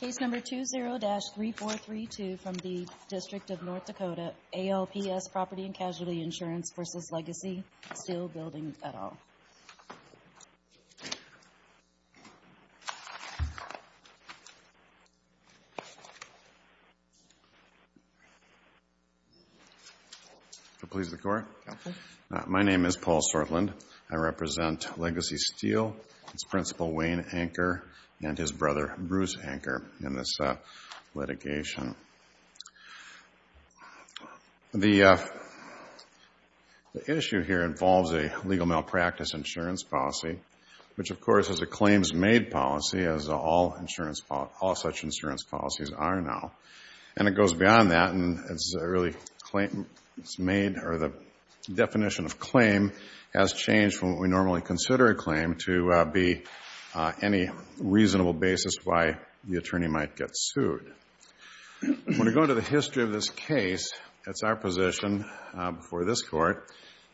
Case No. 20-3432 from the District of North Dakota, ALPS Property & Casualty Insurance v. Legacy Steel Building, et al. Legacy Steel Building, et al. My name is Paul Sortland. I represent Legacy Steel. It's Principal Wayne Anker and his brother Bruce Anker in this litigation. The issue here involves a legal malpractice insurance policy, which of course is a claims-made policy as all such insurance policies are now. And it goes beyond that and the definition of claim has changed from what we normally consider a claim to be any reasonable basis why the attorney might get sued. When we go to the history of this case, it's our position before this Court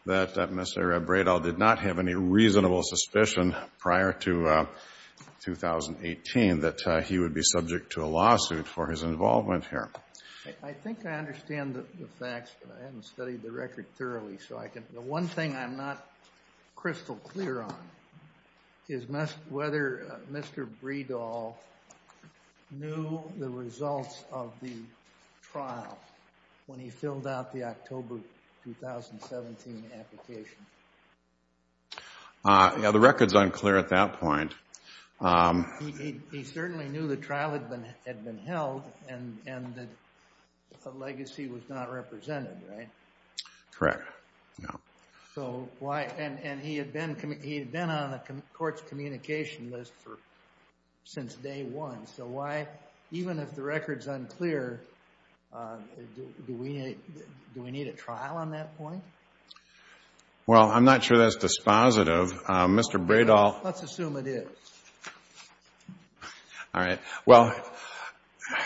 that Mr. Bredahl did not have any reasonable suspicion prior to 2018 that he would be subject to a lawsuit for his involvement here. I think I understand the facts, but I haven't studied the record thoroughly. The one thing I'm not crystal clear on is whether Mr. Bredahl knew the results of the trial when he filled out the October 2017 application. The record's unclear at that point. He certainly knew the trial had been held and the legacy was not represented, right? Correct. And he had been on the Court's communication list since day one. So why, even if the record's unclear, do we need a trial on that point? Well, I'm not sure that's dispositive. Let's assume it is.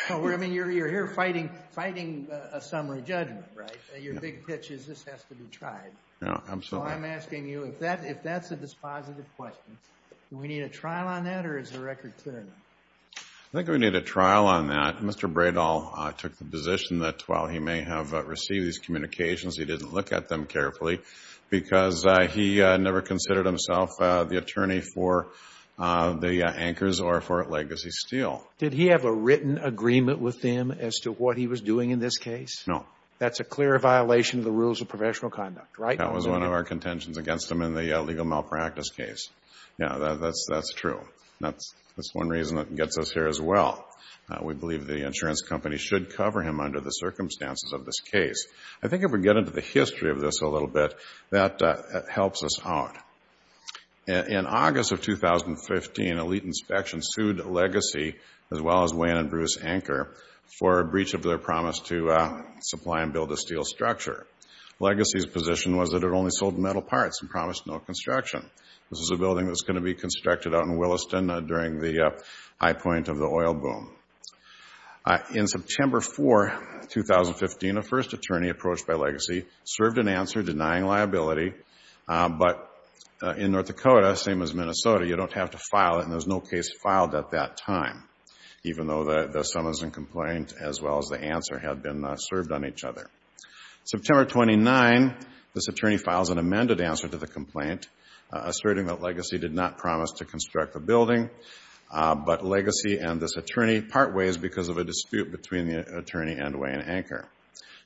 You're here fighting a summary judgment, right? Your big pitch is this has to be tried. Absolutely. So I'm asking you, if that's a dispositive question, do we need a trial on that or is the record clear? I think we need a trial on that. Mr. Bredahl took the position that while he may have received these communications, he didn't look at them carefully because he never considered himself the attorney for the anchors or for Legacy Steel. Did he have a written agreement with them as to what he was doing in this case? No. That's a clear violation of the rules of professional conduct, right? That was one of our contentions against him in the legal malpractice case. Yeah, that's true. That's one reason that gets us here as well. We believe the insurance company should cover him under the circumstances of this case. I think if we get into the history of this a little bit, that helps us out. In August of 2015, Elite Inspection sued Legacy, as well as Wayne and Bruce Anker, for breach of their promise to supply and build a steel structure. Legacy's position was that it only sold metal parts and promised no construction. This is a building that's going to be constructed out in Williston during the high point of the oil boom. In September 4, 2015, a first attorney approached by Legacy served an answer denying liability. But in North Dakota, same as Minnesota, you don't have to file it, and there was no case filed at that time, even though the summons and complaint, as well as the answer, had been served on each other. September 29, this attorney files an amended answer to the complaint, asserting that Legacy did not promise to construct the building, but Legacy and this attorney part ways because of a dispute between the attorney and Wayne Anker.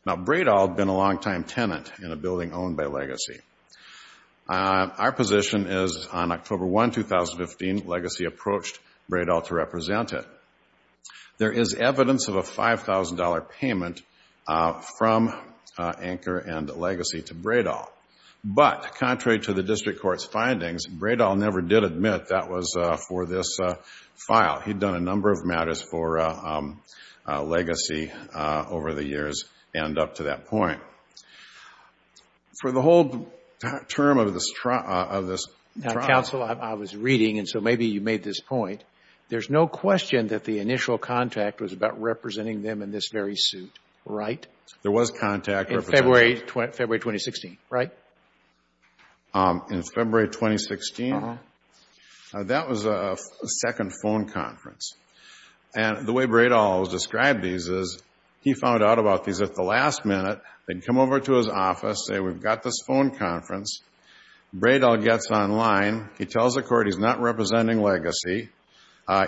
Now, Bredahl had been a longtime tenant in a building owned by Legacy. Our position is on October 1, 2015, Legacy approached Bredahl to represent it. There is evidence of a $5,000 payment from Anker and Legacy to Bredahl. But contrary to the district court's findings, Bredahl never did admit that was for this file. He'd done a number of matters for Legacy over the years and up to that point. For the whole term of this trial— was about representing them in this very suit, right? There was contact— In February 2016, right? In February 2016? Uh-huh. That was a second phone conference. And the way Bredahl described these is he found out about these at the last minute. They'd come over to his office, say, we've got this phone conference. Bredahl gets online. He tells the court he's not representing Legacy.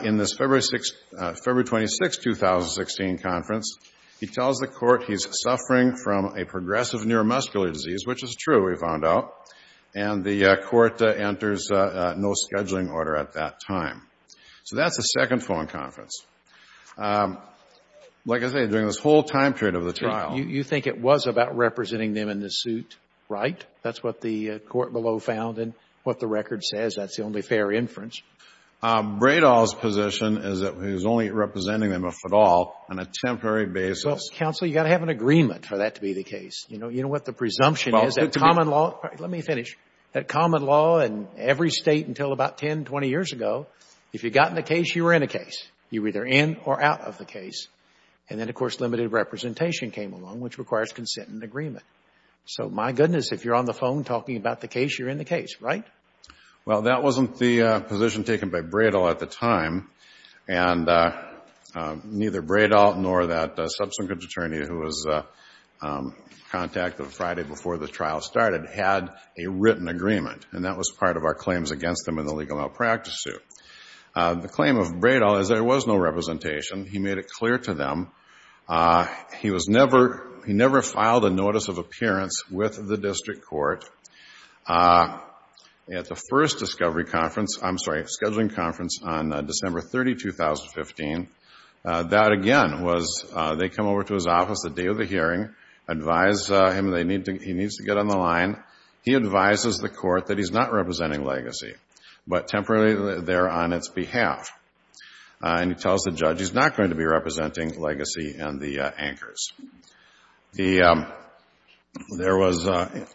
In this February 26, 2016 conference, he tells the court he's suffering from a progressive neuromuscular disease, which is true, he found out. And the court enters no scheduling order at that time. So that's a second phone conference. Like I say, during this whole time period of the trial— You think it was about representing them in this suit, right? That's what the court below found and what the record says. That's the only fair inference. Bredahl's position is that he was only representing them, if at all, on a temporary basis. Well, counsel, you've got to have an agreement for that to be the case. You know what the presumption is that common law— Let me finish. That common law in every State until about 10, 20 years ago, if you got in a case, you were in a case. You were either in or out of the case. And then, of course, limited representation came along, which requires consent and agreement. So, my goodness, if you're on the phone talking about the case, you're in the case, right? Well, that wasn't the position taken by Bredahl at the time. And neither Bredahl nor that subsequent attorney who was contacted Friday before the trial started had a written agreement. And that was part of our claims against them in the legal malpractice suit. The claim of Bredahl is there was no representation. He made it clear to them. He was never—he never filed a notice of appearance with the district court at the first discovery conference— I'm sorry, scheduling conference on December 30, 2015. That, again, was they come over to his office the day of the hearing, advise him he needs to get on the line. He advises the court that he's not representing Legacy, but temporarily they're on its behalf. And he tells the judge he's not going to be representing Legacy and the anchors. There was a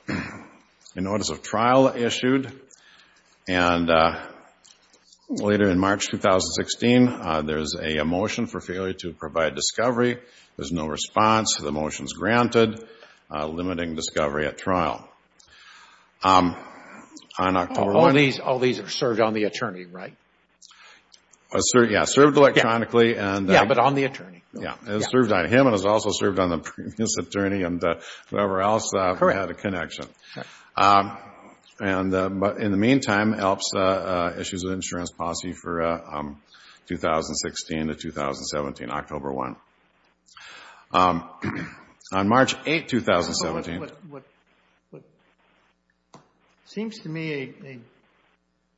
notice of trial issued. And later in March 2016, there's a motion for failure to provide discovery. There's no response. The motion's granted, limiting discovery at trial. On October 1— All these are served on the attorney, right? Yeah. Served electronically and— Yeah, but on the attorney. Yeah. It was served on him and it was also served on the previous attorney and whoever else had a connection. Correct. But in the meantime, ELPS issues an insurance policy for 2016 to 2017, October 1. On March 8, 2017— What seems to me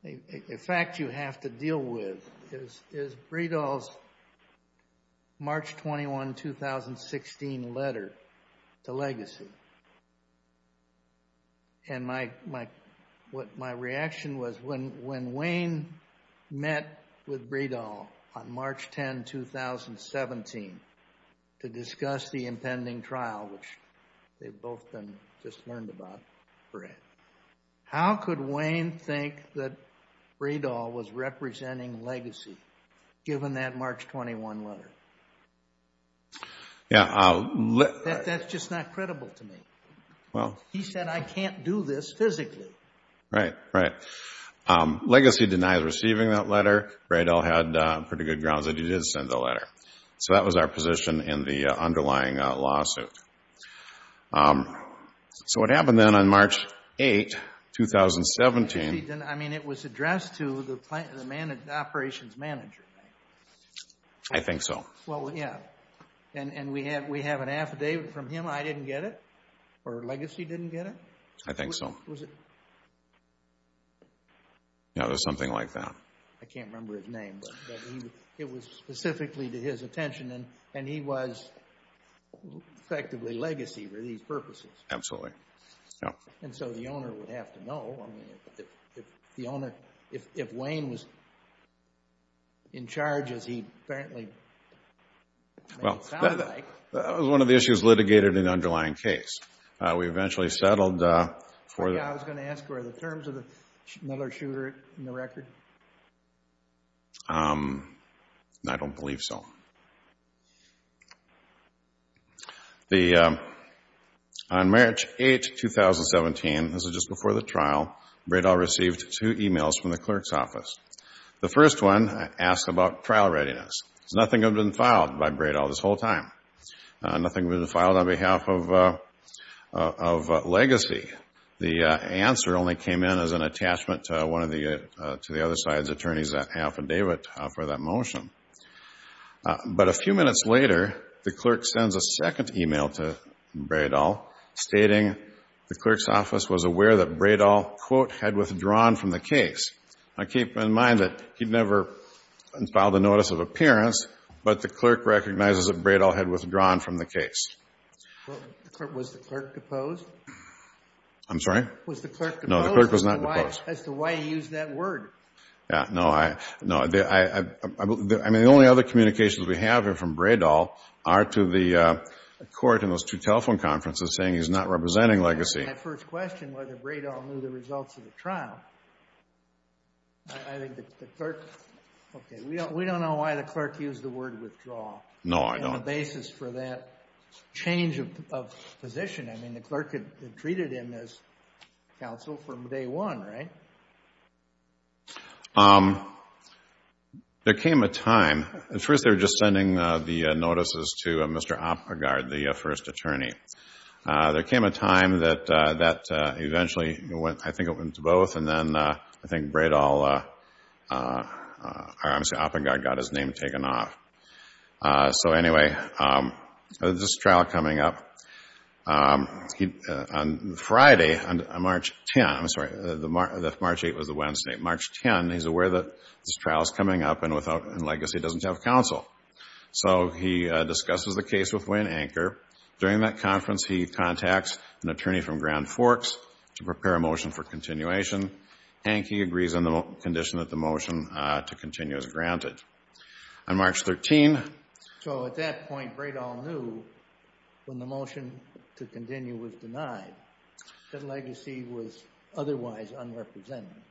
a fact you have to deal with is Bredahl's March 21, 2016 letter to Legacy. And my reaction was when Wayne met with Bredahl on March 10, 2017 to discuss the impending trial, which they've both just learned about, how could Wayne think that Bredahl was representing Legacy, given that March 21 letter? Yeah. That's just not credible to me. Well— He said, I can't do this physically. Right, right. Legacy denies receiving that letter. Bredahl had pretty good grounds that he did send the letter. So that was our position in the underlying lawsuit. So what happened then on March 8, 2017— I mean, it was addressed to the operations manager, right? I think so. Well, yeah. And we have an affidavit from him. I didn't get it, or Legacy didn't get it? I think so. Was it— No, it was something like that. I can't remember his name, but it was specifically to his attention, and he was effectively Legacy for these purposes. Absolutely. And so the owner would have to know. The owner—if Wayne was in charge, as he apparently made it sound like— Well, that was one of the issues litigated in the underlying case. We eventually settled for— I was going to ask, were there terms of another shooter in the record? I don't believe so. On March 8, 2017—this was just before the trial— Bredahl received two emails from the clerk's office. The first one asked about trial readiness. Nothing had been filed by Bredahl this whole time. Nothing had been filed on behalf of Legacy. The answer only came in as an attachment to the other side's attorneys' affidavit for that motion. But a few minutes later, the clerk sends a second email to Bredahl, stating the clerk's office was aware that Bredahl, quote, had withdrawn from the case. Now, keep in mind that he'd never filed a notice of appearance, but the clerk recognizes that Bredahl had withdrawn from the case. Was the clerk deposed? I'm sorry? Was the clerk deposed? No, the clerk was not deposed. As to why he used that word. Yeah, no. I mean, the only other communications we have here from Bredahl are to the court in those two telephone conferences saying he's not representing Legacy. That's my first question, whether Bredahl knew the results of the trial. I think the clerk—okay, we don't know why the clerk used the word withdraw. No, I don't. On the basis for that change of position. I mean, the clerk had treated him as counsel from day one, right? There came a time—at first they were just sending the notices to Mr. Oppengard, the first attorney. There came a time that eventually, I think it went to both, and then I think Bredahl—I'm sorry, Oppengard got his name taken off. So, anyway, this trial coming up, on Friday, on March 10th, I'm sorry, March 8th was the Wednesday, March 10th, he's aware that this trial is coming up and Legacy doesn't have counsel. So he discusses the case with Wayne Anker. During that conference, he contacts an attorney from Grand Forks to prepare a motion for continuation, and he agrees on the condition that the motion to continue is granted. On March 13th— So at that point, Bredahl knew when the motion to continue was denied that Legacy was otherwise unrepresentative.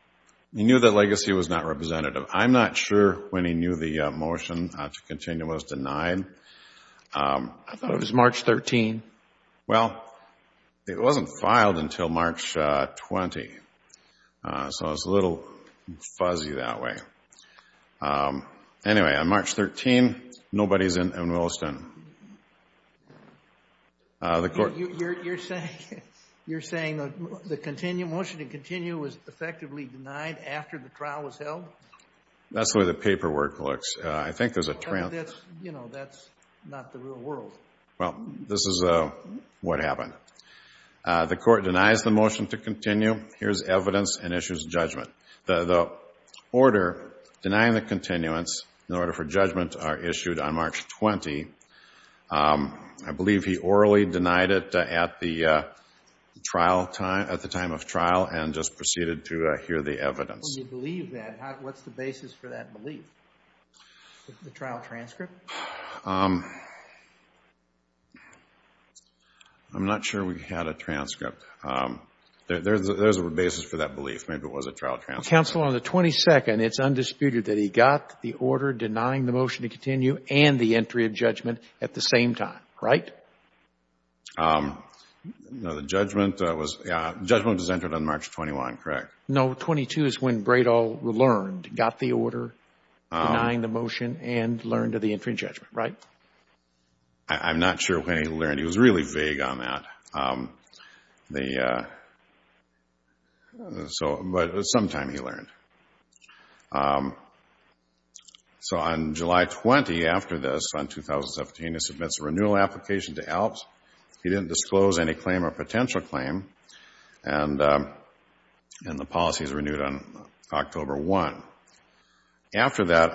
He knew that Legacy was not representative. I'm not sure when he knew the motion to continue was denied. I thought it was March 13th. Well, it wasn't filed until March 20th, so I was a little fuzzy that way. Anyway, on March 13th, nobody's in Williston. You're saying the motion to continue was effectively denied after the trial was held? That's the way the paperwork looks. I think there's a— You know, that's not the real world. Well, this is what happened. The court denies the motion to continue. Here's evidence and issues judgment. The order denying the continuance in order for judgment are issued on March 20. I believe he orally denied it at the time of trial and just proceeded to hear the evidence. When you believe that, what's the basis for that belief? The trial transcript? I'm not sure we had a transcript. There's a basis for that belief. Maybe it was a trial transcript. Counsel, on the 22nd, it's undisputed that he got the order denying the motion to continue and the entry of judgment at the same time, right? No, the judgment was entered on March 21, correct? No, 22 is when Braidall learned, got the order denying the motion and learned of the entry of judgment, right? I'm not sure when he learned. He was really vague on that. But sometime he learned. So on July 20, after this, on 2017, he submits a renewal application to ALPS. He didn't disclose any claim or potential claim, and the policy is renewed on October 1. After that,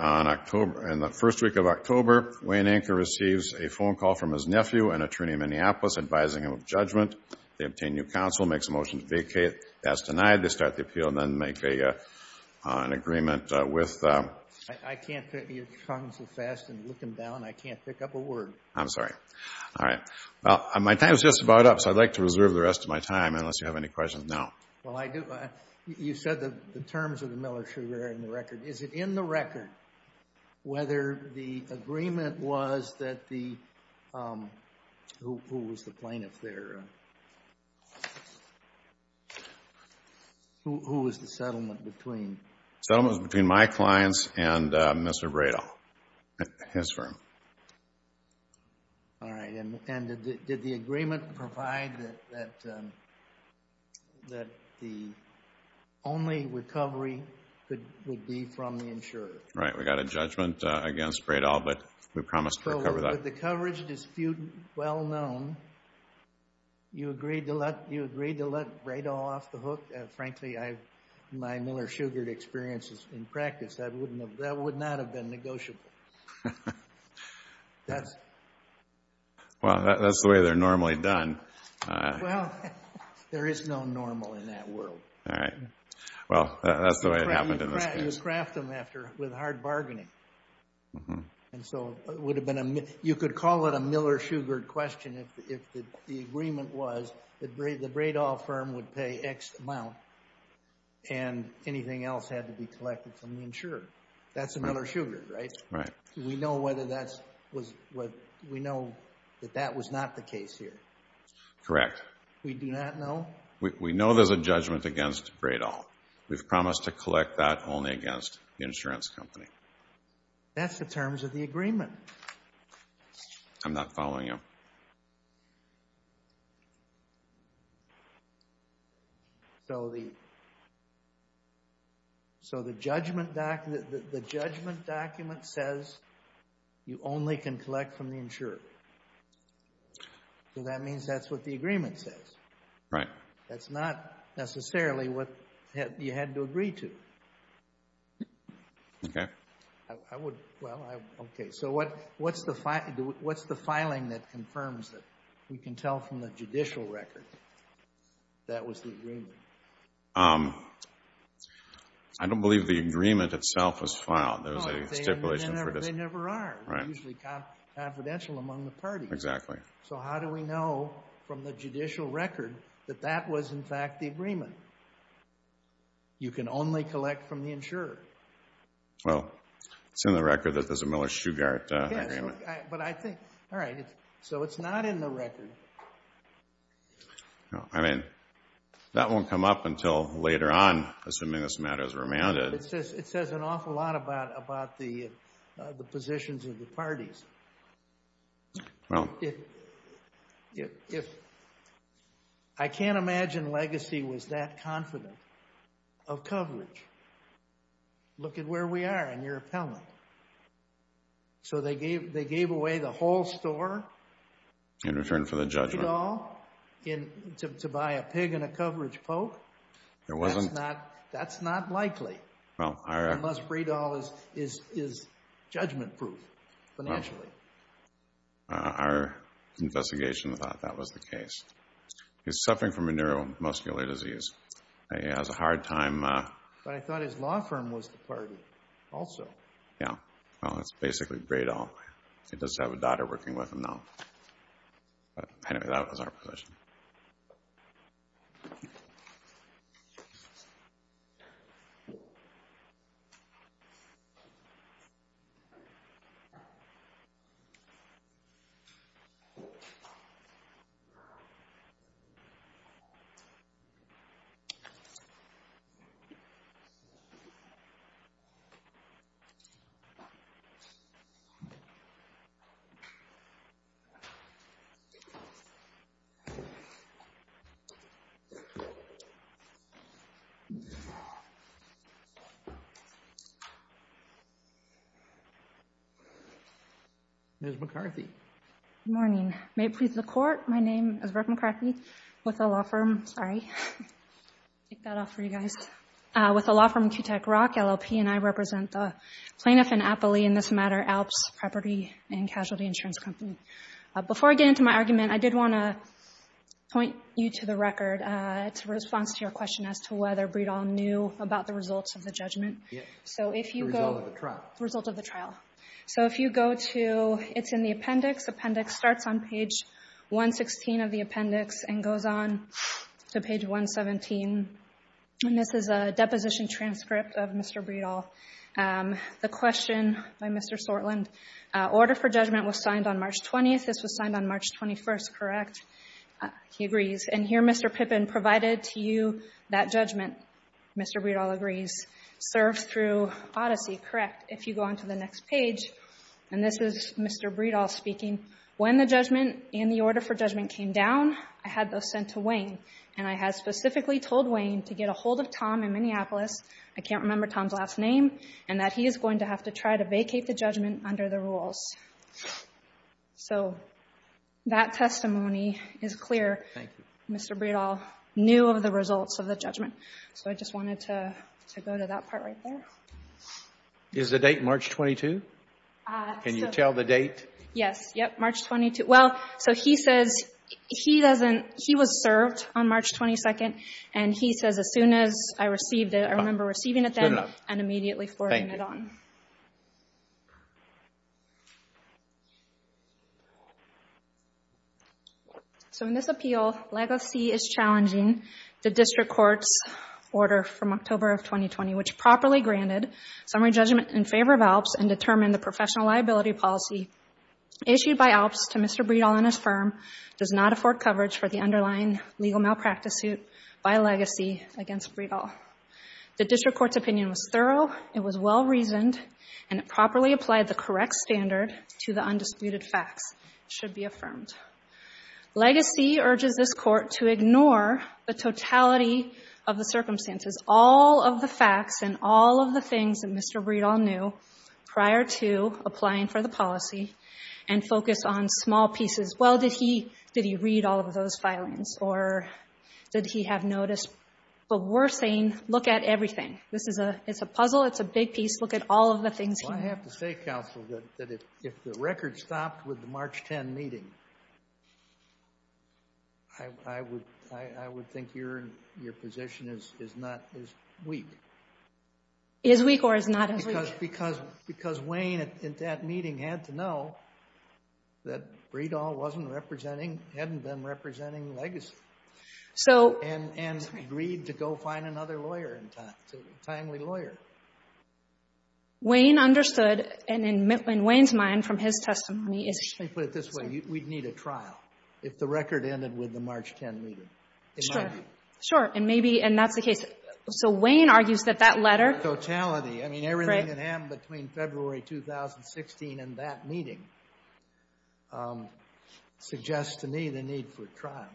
in the first week of October, Wayne Anker receives a phone call from his nephew, an attorney in Minneapolis, advising him of judgment. They obtain new counsel, makes a motion to vacate. That's denied. They start the appeal and then make an agreement with I can't fit your tongue so fast and look him down. I can't pick up a word. I'm sorry. All right. Well, my time is just about up, so I'd like to reserve the rest of my time, unless you have any questions. No. Well, I do. You said the terms of the Miller-Sugar are in the record. Is it in the record whether the agreement was that the Who was the plaintiff there? Who was the settlement between? Settlement was between my clients and Mr. Bradel, his firm. All right. And did the agreement provide that the only recovery would be from the insurer? Right. We got a judgment against Bradel, but we promised to recover that. The coverage is well known. You agreed to let Bradel off the hook? Frankly, my Miller-Sugar experiences in practice, that would not have been negotiable. Well, that's the way they're normally done. Well, there is no normal in that world. All right. Well, that's the way it happened in this case. You craft them with hard bargaining. And so you could call it a Miller-Sugar question if the agreement was that the Bradel firm would pay X amount and anything else had to be collected from the insurer. That's a Miller-Sugar, right? Right. We know that that was not the case here? Correct. We do not know? We know there's a judgment against Bradel. We've promised to collect that only against the insurance company. That's the terms of the agreement. I'm not following you. So the judgment document says you only can collect from the insurer. So that means that's what the agreement says. Right. That's not necessarily what you had to agree to. Okay. Well, okay. So what's the filing that confirms that? We can tell from the judicial record that was the agreement. I don't believe the agreement itself was filed. There was a stipulation for this. No, they never are. Right. They're usually confidential among the parties. Exactly. So how do we know from the judicial record that that was, in fact, the agreement? You can only collect from the insurer. Well, it's in the record that there's a Miller-Shugart agreement. Yes. All right. So it's not in the record. No. I mean, that won't come up until later on, assuming this matter is remanded. It says an awful lot about the positions of the parties. Well. I can't imagine Legacy was that confident of coverage. Look at where we are in your appellant. So they gave away the whole store? In return for the judgment. To buy a pig and a coverage poke? That's not likely. Unless Bredahl is judgment-proof financially. Our investigation thought that was the case. He's suffering from a neuromuscular disease. He has a hard time. But I thought his law firm was the party also. Yeah. Well, it's basically Bredahl. He does have a daughter working with him now. Anyway, that was our position. Ms. McCarthy. Good morning. May it please the Court, my name is Brooke McCarthy with a law firm. Sorry. Take that off for you guys. With a law firm, Q-Tech Rock, LLP, and I represent the plaintiff and appellee in this matter, Alps Property and Casualty Insurance Company. Before I get into my argument, I did want to point you to the record to response to your question as to whether Bredahl knew about the results of the judgment. Yes. The result of the trial. The result of the trial. So if you go to, it's in the appendix. Appendix starts on page 116 of the appendix and goes on to page 117. And this is a deposition transcript of Mr. Bredahl. The question by Mr. Sortland, order for judgment was signed on March 20th, this was signed on March 21st, correct? He agrees. And here Mr. Pippin provided to you that judgment, Mr. Bredahl agrees, served through Odyssey, correct? If you go on to the next page, and this is Mr. Bredahl speaking, when the judgment and the order for judgment came down, I had those sent to Wayne. And I had specifically told Wayne to get a hold of Tom in Minneapolis. I can't remember Tom's last name. And that he is going to have to try to vacate the judgment under the rules. So that testimony is clear. Thank you. Mr. Bredahl knew of the results of the judgment. So I just wanted to go to that part right there. Is the date March 22? Can you tell the date? Yes. Yep. March 22. Well, so he says he doesn't he was served on March 22nd. And he says, as soon as I received it, I remember receiving it then and immediately forwarding it on. Thank you. So in this appeal, legacy is challenging the district court's order from October of 2020, which properly granted summary judgment in favor of ALPS and determined the professional liability policy issued by ALPS to Mr. Bredahl does not afford coverage for the underlying legal malpractice suit by legacy against Bredahl. The district court's opinion was thorough. It was well-reasoned and it properly applied the correct standard to the undisputed facts should be affirmed. Legacy urges this court to ignore the totality of the circumstances. All of the facts and all of the things that Mr. Bredahl knew prior to applying for the policy and focus on small pieces. Well, did he read all of those filings or did he have notice? But we're saying look at everything. This is a puzzle. It's a big piece. Look at all of the things. I have to say, counsel, that if the record stopped with the March 10 meeting, Is weak or is not as weak? Because Wayne at that meeting had to know that Bredahl wasn't representing, hadn't been representing legacy. And agreed to go find another lawyer, a timely lawyer. Wayne understood and in Wayne's mind from his testimony is Let me put it this way. We'd need a trial if the record ended with the March 10 meeting. It might be. Sure. And that's the case. So Wayne argues that that letter That totality. I mean everything that happened between February 2016 and that meeting suggests to me the need for trial.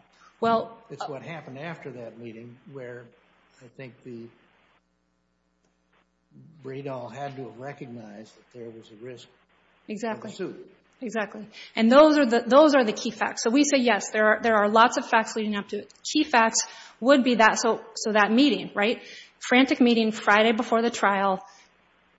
It's what happened after that meeting where I think Bredahl had to recognize that there was a risk of a suit. Exactly. And those are the key facts. So we say yes, there are lots of facts leading up to it. Key facts would be that. So that meeting, right? Before the trial,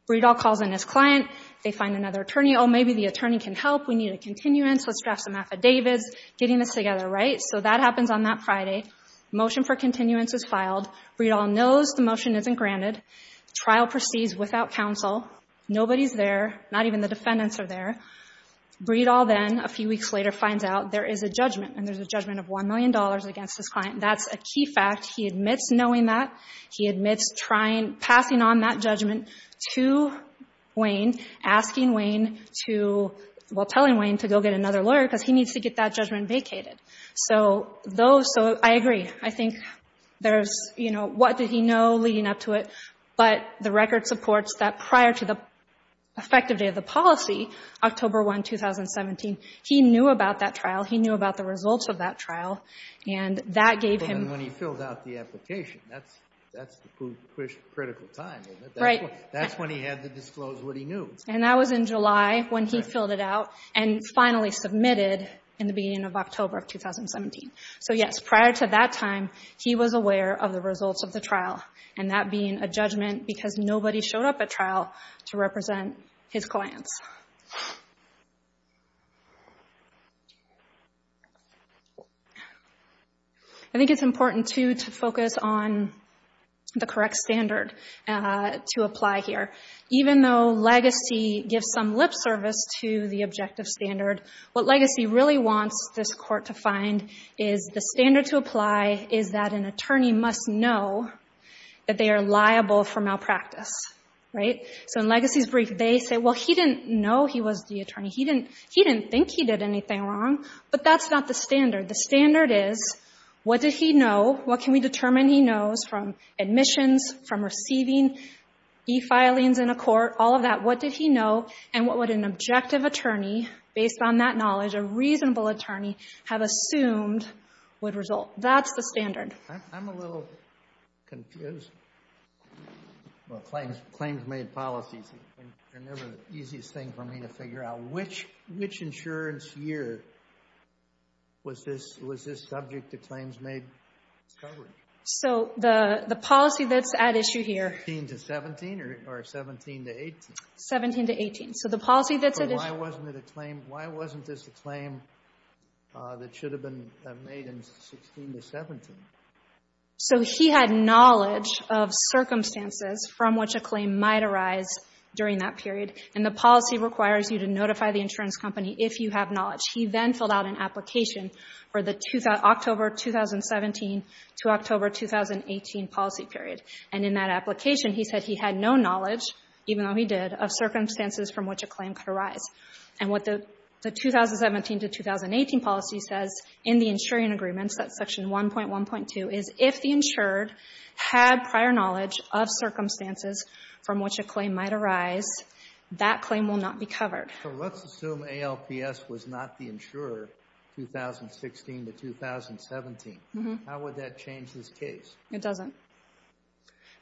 Bredahl calls in his client. They find another attorney. Oh, maybe the attorney can help. We need a continuance. Let's draft some affidavits. Getting this together, right? So that happens on that Friday. Motion for continuance is filed. Bredahl knows the motion isn't granted. Trial proceeds without counsel. Nobody's there. Not even the defendants are there. Bredahl then a few weeks later finds out there is a judgment and there's a judgment of $1 million against his client. That's a key fact. He admits knowing that. He admits trying, passing on that judgment to Wayne, asking Wayne to, well, telling Wayne to go get another lawyer because he needs to get that judgment vacated. So those, so I agree. I think there's, you know, what did he know leading up to it? But the record supports that prior to the effective day of the policy, October 1, 2017, he knew about that trial. He knew about the results of that trial. And that gave him. And when he filled out the application, that's the critical time, isn't it? Right. That's when he had to disclose what he knew. And that was in July when he filled it out and finally submitted in the beginning of October of 2017. So, yes, prior to that time, he was aware of the results of the trial and that being a judgment because nobody showed up at trial to represent his clients. I think it's important, too, to focus on the correct standard to apply here. Even though Legacy gives some lip service to the objective standard, what Legacy really wants this court to find is the standard to apply is that an attorney must know that they are liable for malpractice. Right. So in Legacy's brief, they say, well, he didn't know he was the attorney. He didn't think he did anything wrong. But that's not the standard. The standard is what did he know, what can we determine he knows from admissions, from receiving e-filings in a court, all of that, what did he know and what would an objective attorney, based on that knowledge, a reasonable attorney, have assumed would result. That's the standard. I'm a little confused. Claims made policies are never the easiest thing for me to figure out. Which insurance year was this subject to claims made coverage? So the policy that's at issue here. 16 to 17 or 17 to 18? So the policy that's at issue. Why wasn't it a claim? Why wasn't this a claim that should have been made in 16 to 17? So he had knowledge of circumstances from which a claim might arise during that period. And the policy requires you to notify the insurance company if you have knowledge. He then filled out an application for the October 2017 to October 2018 policy period. And in that application, he said he had no knowledge, even though he did, of circumstances from which a claim could arise. And what the 2017 to 2018 policy says in the insuring agreements, that's section 1.1.2, is if the insured had prior knowledge of circumstances from which a claim might arise, that claim will not be covered. So let's assume ALPS was not the insurer 2016 to 2017. How would that change this case? It doesn't.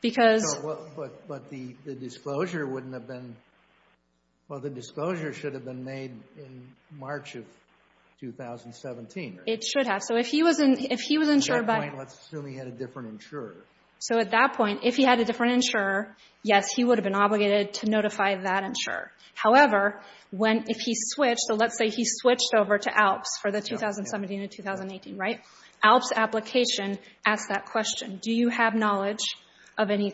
But the disclosure wouldn't have been – well, the disclosure should have been made in March of 2017. It should have. So if he was insured by – At that point, let's assume he had a different insurer. So at that point, if he had a different insurer, yes, he would have been obligated to notify that insurer. However, if he switched – so let's say he switched over to ALPS for the 2017 to 2018, right? ALPS application asks that question. Do you have knowledge of any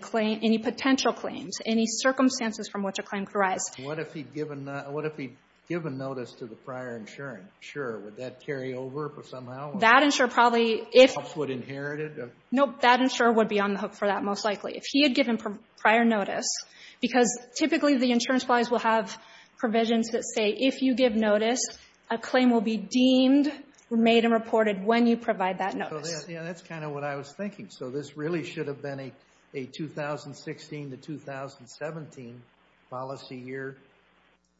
potential claims, any circumstances from which a claim could arise? What if he'd given notice to the prior insurer? Would that carry over somehow? That insurer probably – ALPS would inherit it? Nope. That insurer would be on the hook for that most likely. If he had given prior notice – because typically the insurance policies will have provisions that say if you give notice, a claim will be deemed, made, and reported when you provide that notice. Yeah, that's kind of what I was thinking. So this really should have been a 2016 to 2017 policy year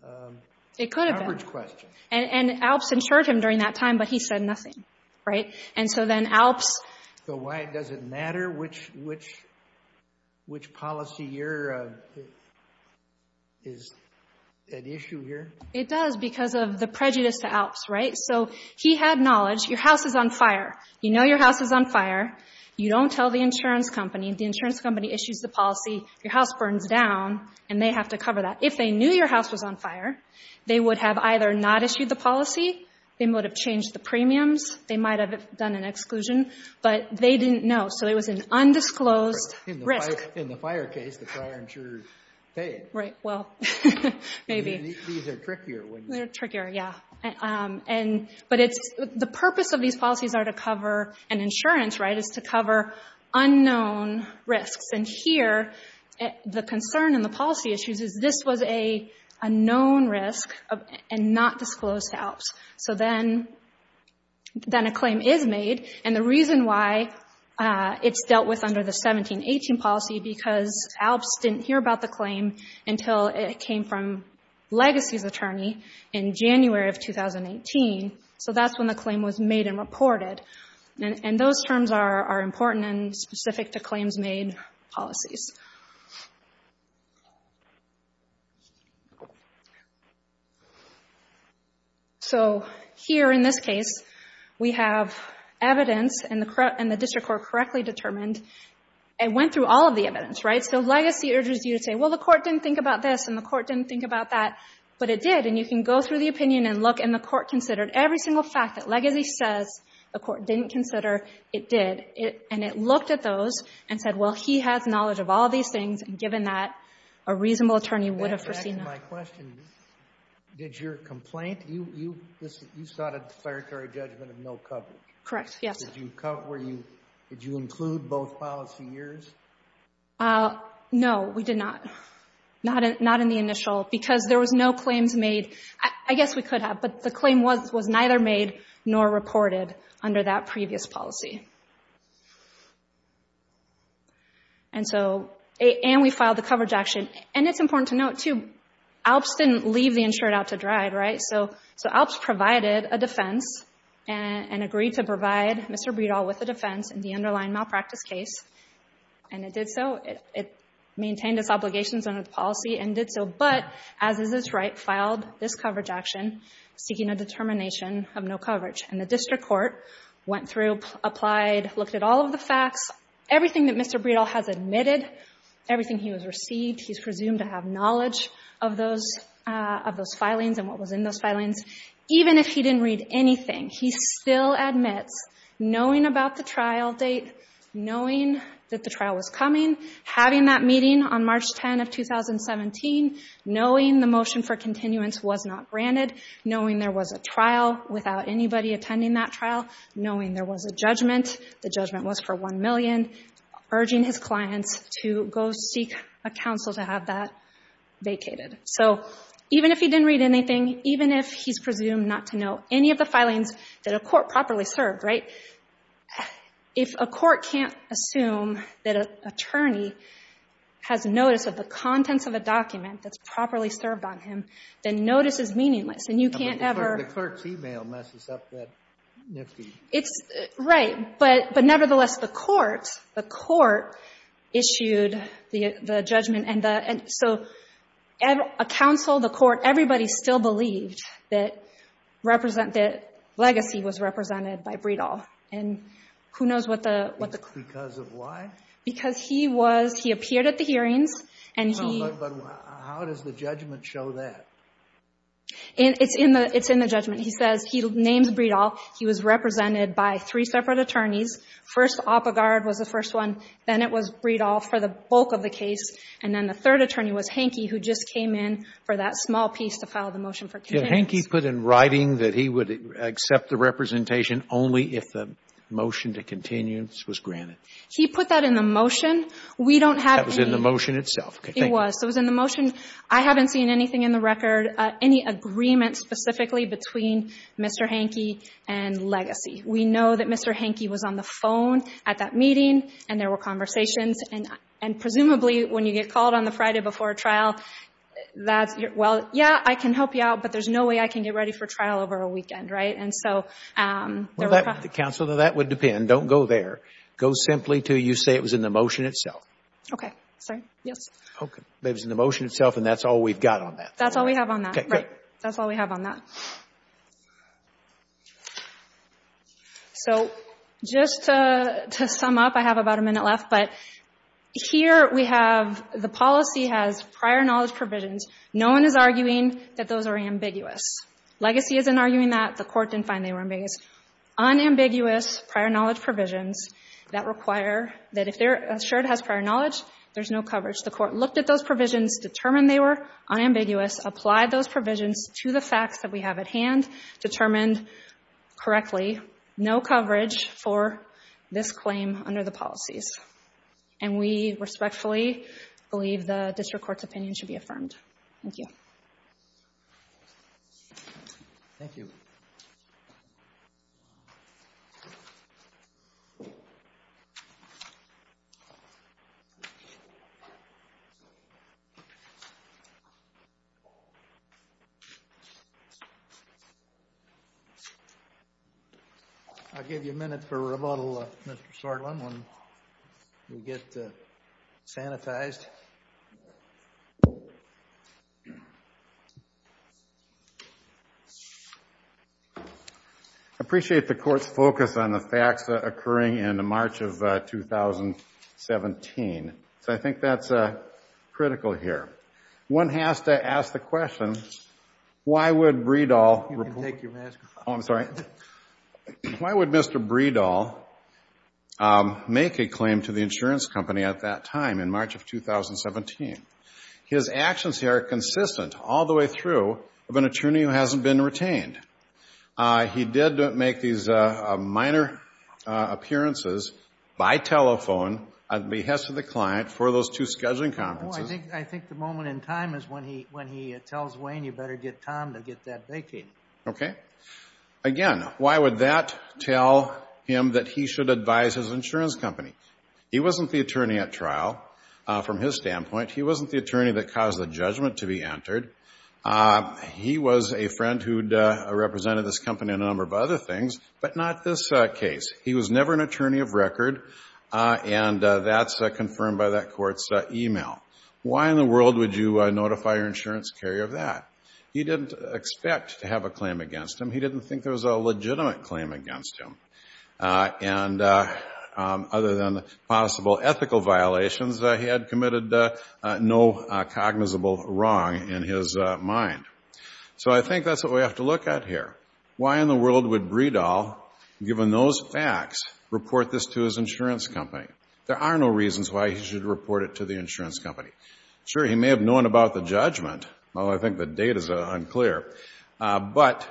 coverage question. It could have been. And ALPS insured him during that time, but he said nothing, right? And so then ALPS – So why does it matter which policy year is at issue here? It does because of the prejudice to ALPS, right? So he had knowledge. Your house is on fire. You know your house is on fire. You don't tell the insurance company. If the insurance company issues the policy, your house burns down, and they have to cover that. If they knew your house was on fire, they would have either not issued the policy, they might have changed the premiums, they might have done an exclusion, but they didn't know. So it was an undisclosed risk. In the fire case, the prior insurer paid. Right. Well, maybe. These are trickier, wouldn't you say? They're trickier, yeah. But the purpose of these policies are to cover an insurance, right, is to cover unknown risks. And here the concern in the policy issues is this was a known risk and not disclosed to ALPS. So then a claim is made, and the reason why it's dealt with under the 17-18 policy because ALPS didn't hear about the claim until it came from Legacy's attorney in January of 2018. So that's when the claim was made and reported. And those terms are important and specific to claims made policies. So here in this case, we have evidence, and the district court correctly determined and went through all of the evidence. Right. So if Legacy urges you to say, well, the court didn't think about this and the court didn't think about that, but it did, and you can go through the opinion and look, and the court considered every single fact that Legacy says the court didn't consider, it did, and it looked at those and said, well, he has knowledge of all these things, and given that, a reasonable attorney would have foreseen that. To answer my question, did your complaint, you sought a declaratory judgment of no coverage. Correct, yes. Did you include both policy years? No, we did not. Not in the initial, because there was no claims made. I guess we could have, but the claim was neither made nor reported under that previous policy. And so, and we filed the coverage action. And it's important to note, too, ALPS didn't leave the insured out to dry, right? So ALPS provided a defense and agreed to provide Mr. Bredahl with a defense in the underlying malpractice case, and it did so. It maintained its obligations under the policy and did so, but, as is its right, filed this coverage action seeking a determination of no coverage. And the district court went through, applied, looked at all of the facts, everything that Mr. Bredahl has admitted, everything he has received, he's presumed to have knowledge of those filings and what was in those filings. Even if he didn't read anything, he still admits, knowing about the trial date, knowing that the trial was coming, having that meeting on March 10 of 2017, knowing the motion for continuance was not granted, knowing there was a trial without anybody attending that trial, knowing there was a judgment, the judgment was for $1 million, urging his clients to go seek a counsel to have that vacated. So even if he didn't read anything, even if he's presumed not to know any of the filings that a court properly served, right? If a court can't assume that an attorney has notice of the contents of a document that's properly served on him, then notice is meaningless, and you can't ever The clerk's e-mail messes up that nifty It's, right, but nevertheless, the court, the court issued the judgment, and so a counsel, the court, everybody still believed that legacy was represented by Breedall, and who knows what the Because of what? Because he was, he appeared at the hearings, No, but how does the judgment show that? It's in the judgment. He says, he names Breedall, he was represented by three separate attorneys, first Oppegaard was the first one, then it was Breedall for the bulk of the case, and then the third attorney was Hanke, who just came in for that small piece to file the motion for content. Did Hanke put in writing that he would accept the representation only if the motion to continuance was granted? He put that in the motion. We don't have any That was in the motion itself. It was. It was in the motion. I haven't seen anything in the record, any agreement specifically between Mr. Hanke and Legacy. We know that Mr. Hanke was on the phone at that meeting, and there were conversations, and presumably when you get called on the Friday before a trial, that's, well, yeah, I can help you out, but there's no way I can get ready for trial over a weekend, right? And so, there were Counsel, that would depend. Don't go there. Go simply to you say it was in the motion itself. Okay. Sorry. Yes. It was in the motion itself, and that's all we've got on that. That's all we have on that. Right. That's all we have on that. So, just to sum up, I have about a minute left, but here we have, the policy has prior knowledge provisions. No one is arguing that those are ambiguous. Legacy isn't arguing that. The court didn't find they were ambiguous. Unambiguous prior knowledge provisions that require that if they're assured it has prior knowledge, there's no coverage. The court looked at those provisions, determined they were unambiguous, applied those provisions to the facts that we have at hand, determined correctly, no coverage for this claim under the policies. And we respectfully believe the district court's opinion should be affirmed. Thank you. Thank you. I'll give you a minute for rebuttal, Mr. Shortland, when we get sanitized. I appreciate the court's focus on the facts occurring in March of 2017, so I think that's critical here. One has to ask the question, why would Breedall... You can take your mask off. Oh, I'm sorry. Why would Mr. Breedall make a claim to the insurance company at that time in March of 2017? His actions here are consistent all the way through of an attorney who hasn't been retained. He did make these minor appearances by telephone at the behest of the client for those two scheduling conferences. I think the moment in time is when he tells Wayne, you better get Tom to get that vacated. Okay? Again, why would that tell him that he should advise his insurance company? He wasn't the attorney at trial from his standpoint. He wasn't the attorney that caused the judgment to be entered. He was a friend who'd represented this company on a number of other things, but not this case. He was never an attorney of record, and that's confirmed by that court's email. Why in the world would you notify your insurance carrier of that? He didn't expect to have a claim against him. He didn't think there was a legitimate claim against him. And other than possible ethical violations, he had committed no cognizable wrong in his mind. So I think that's what we have to look at here. Why in the world would Breedall, given those facts, report this to his insurance company? There are no reasons why he should report it to the insurance company. Sure, he may have known about the judgment, although I think the date is unclear. But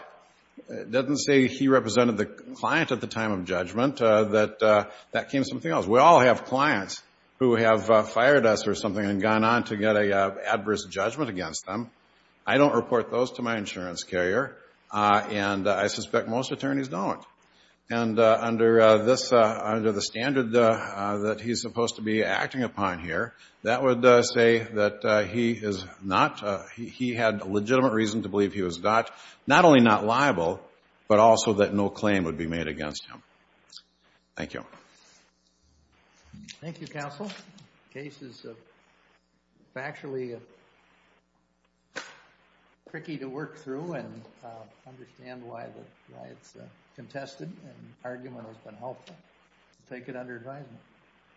it doesn't say he represented the client at the time of judgment. That came as something else. We all have clients who have fired us or something and gone on to get an adverse judgment against them. I don't report those to my insurance carrier, and I suspect most attorneys don't. And under the standard that he's supposed to be acting upon here, that would say that he is not. He had legitimate reason to believe he was not, not only not liable, but also that no claim would be made against him. Thank you. Thank you, counsel. The case is factually tricky to work through and understand why it's contested and the argument has been helpful. I take it under advisement.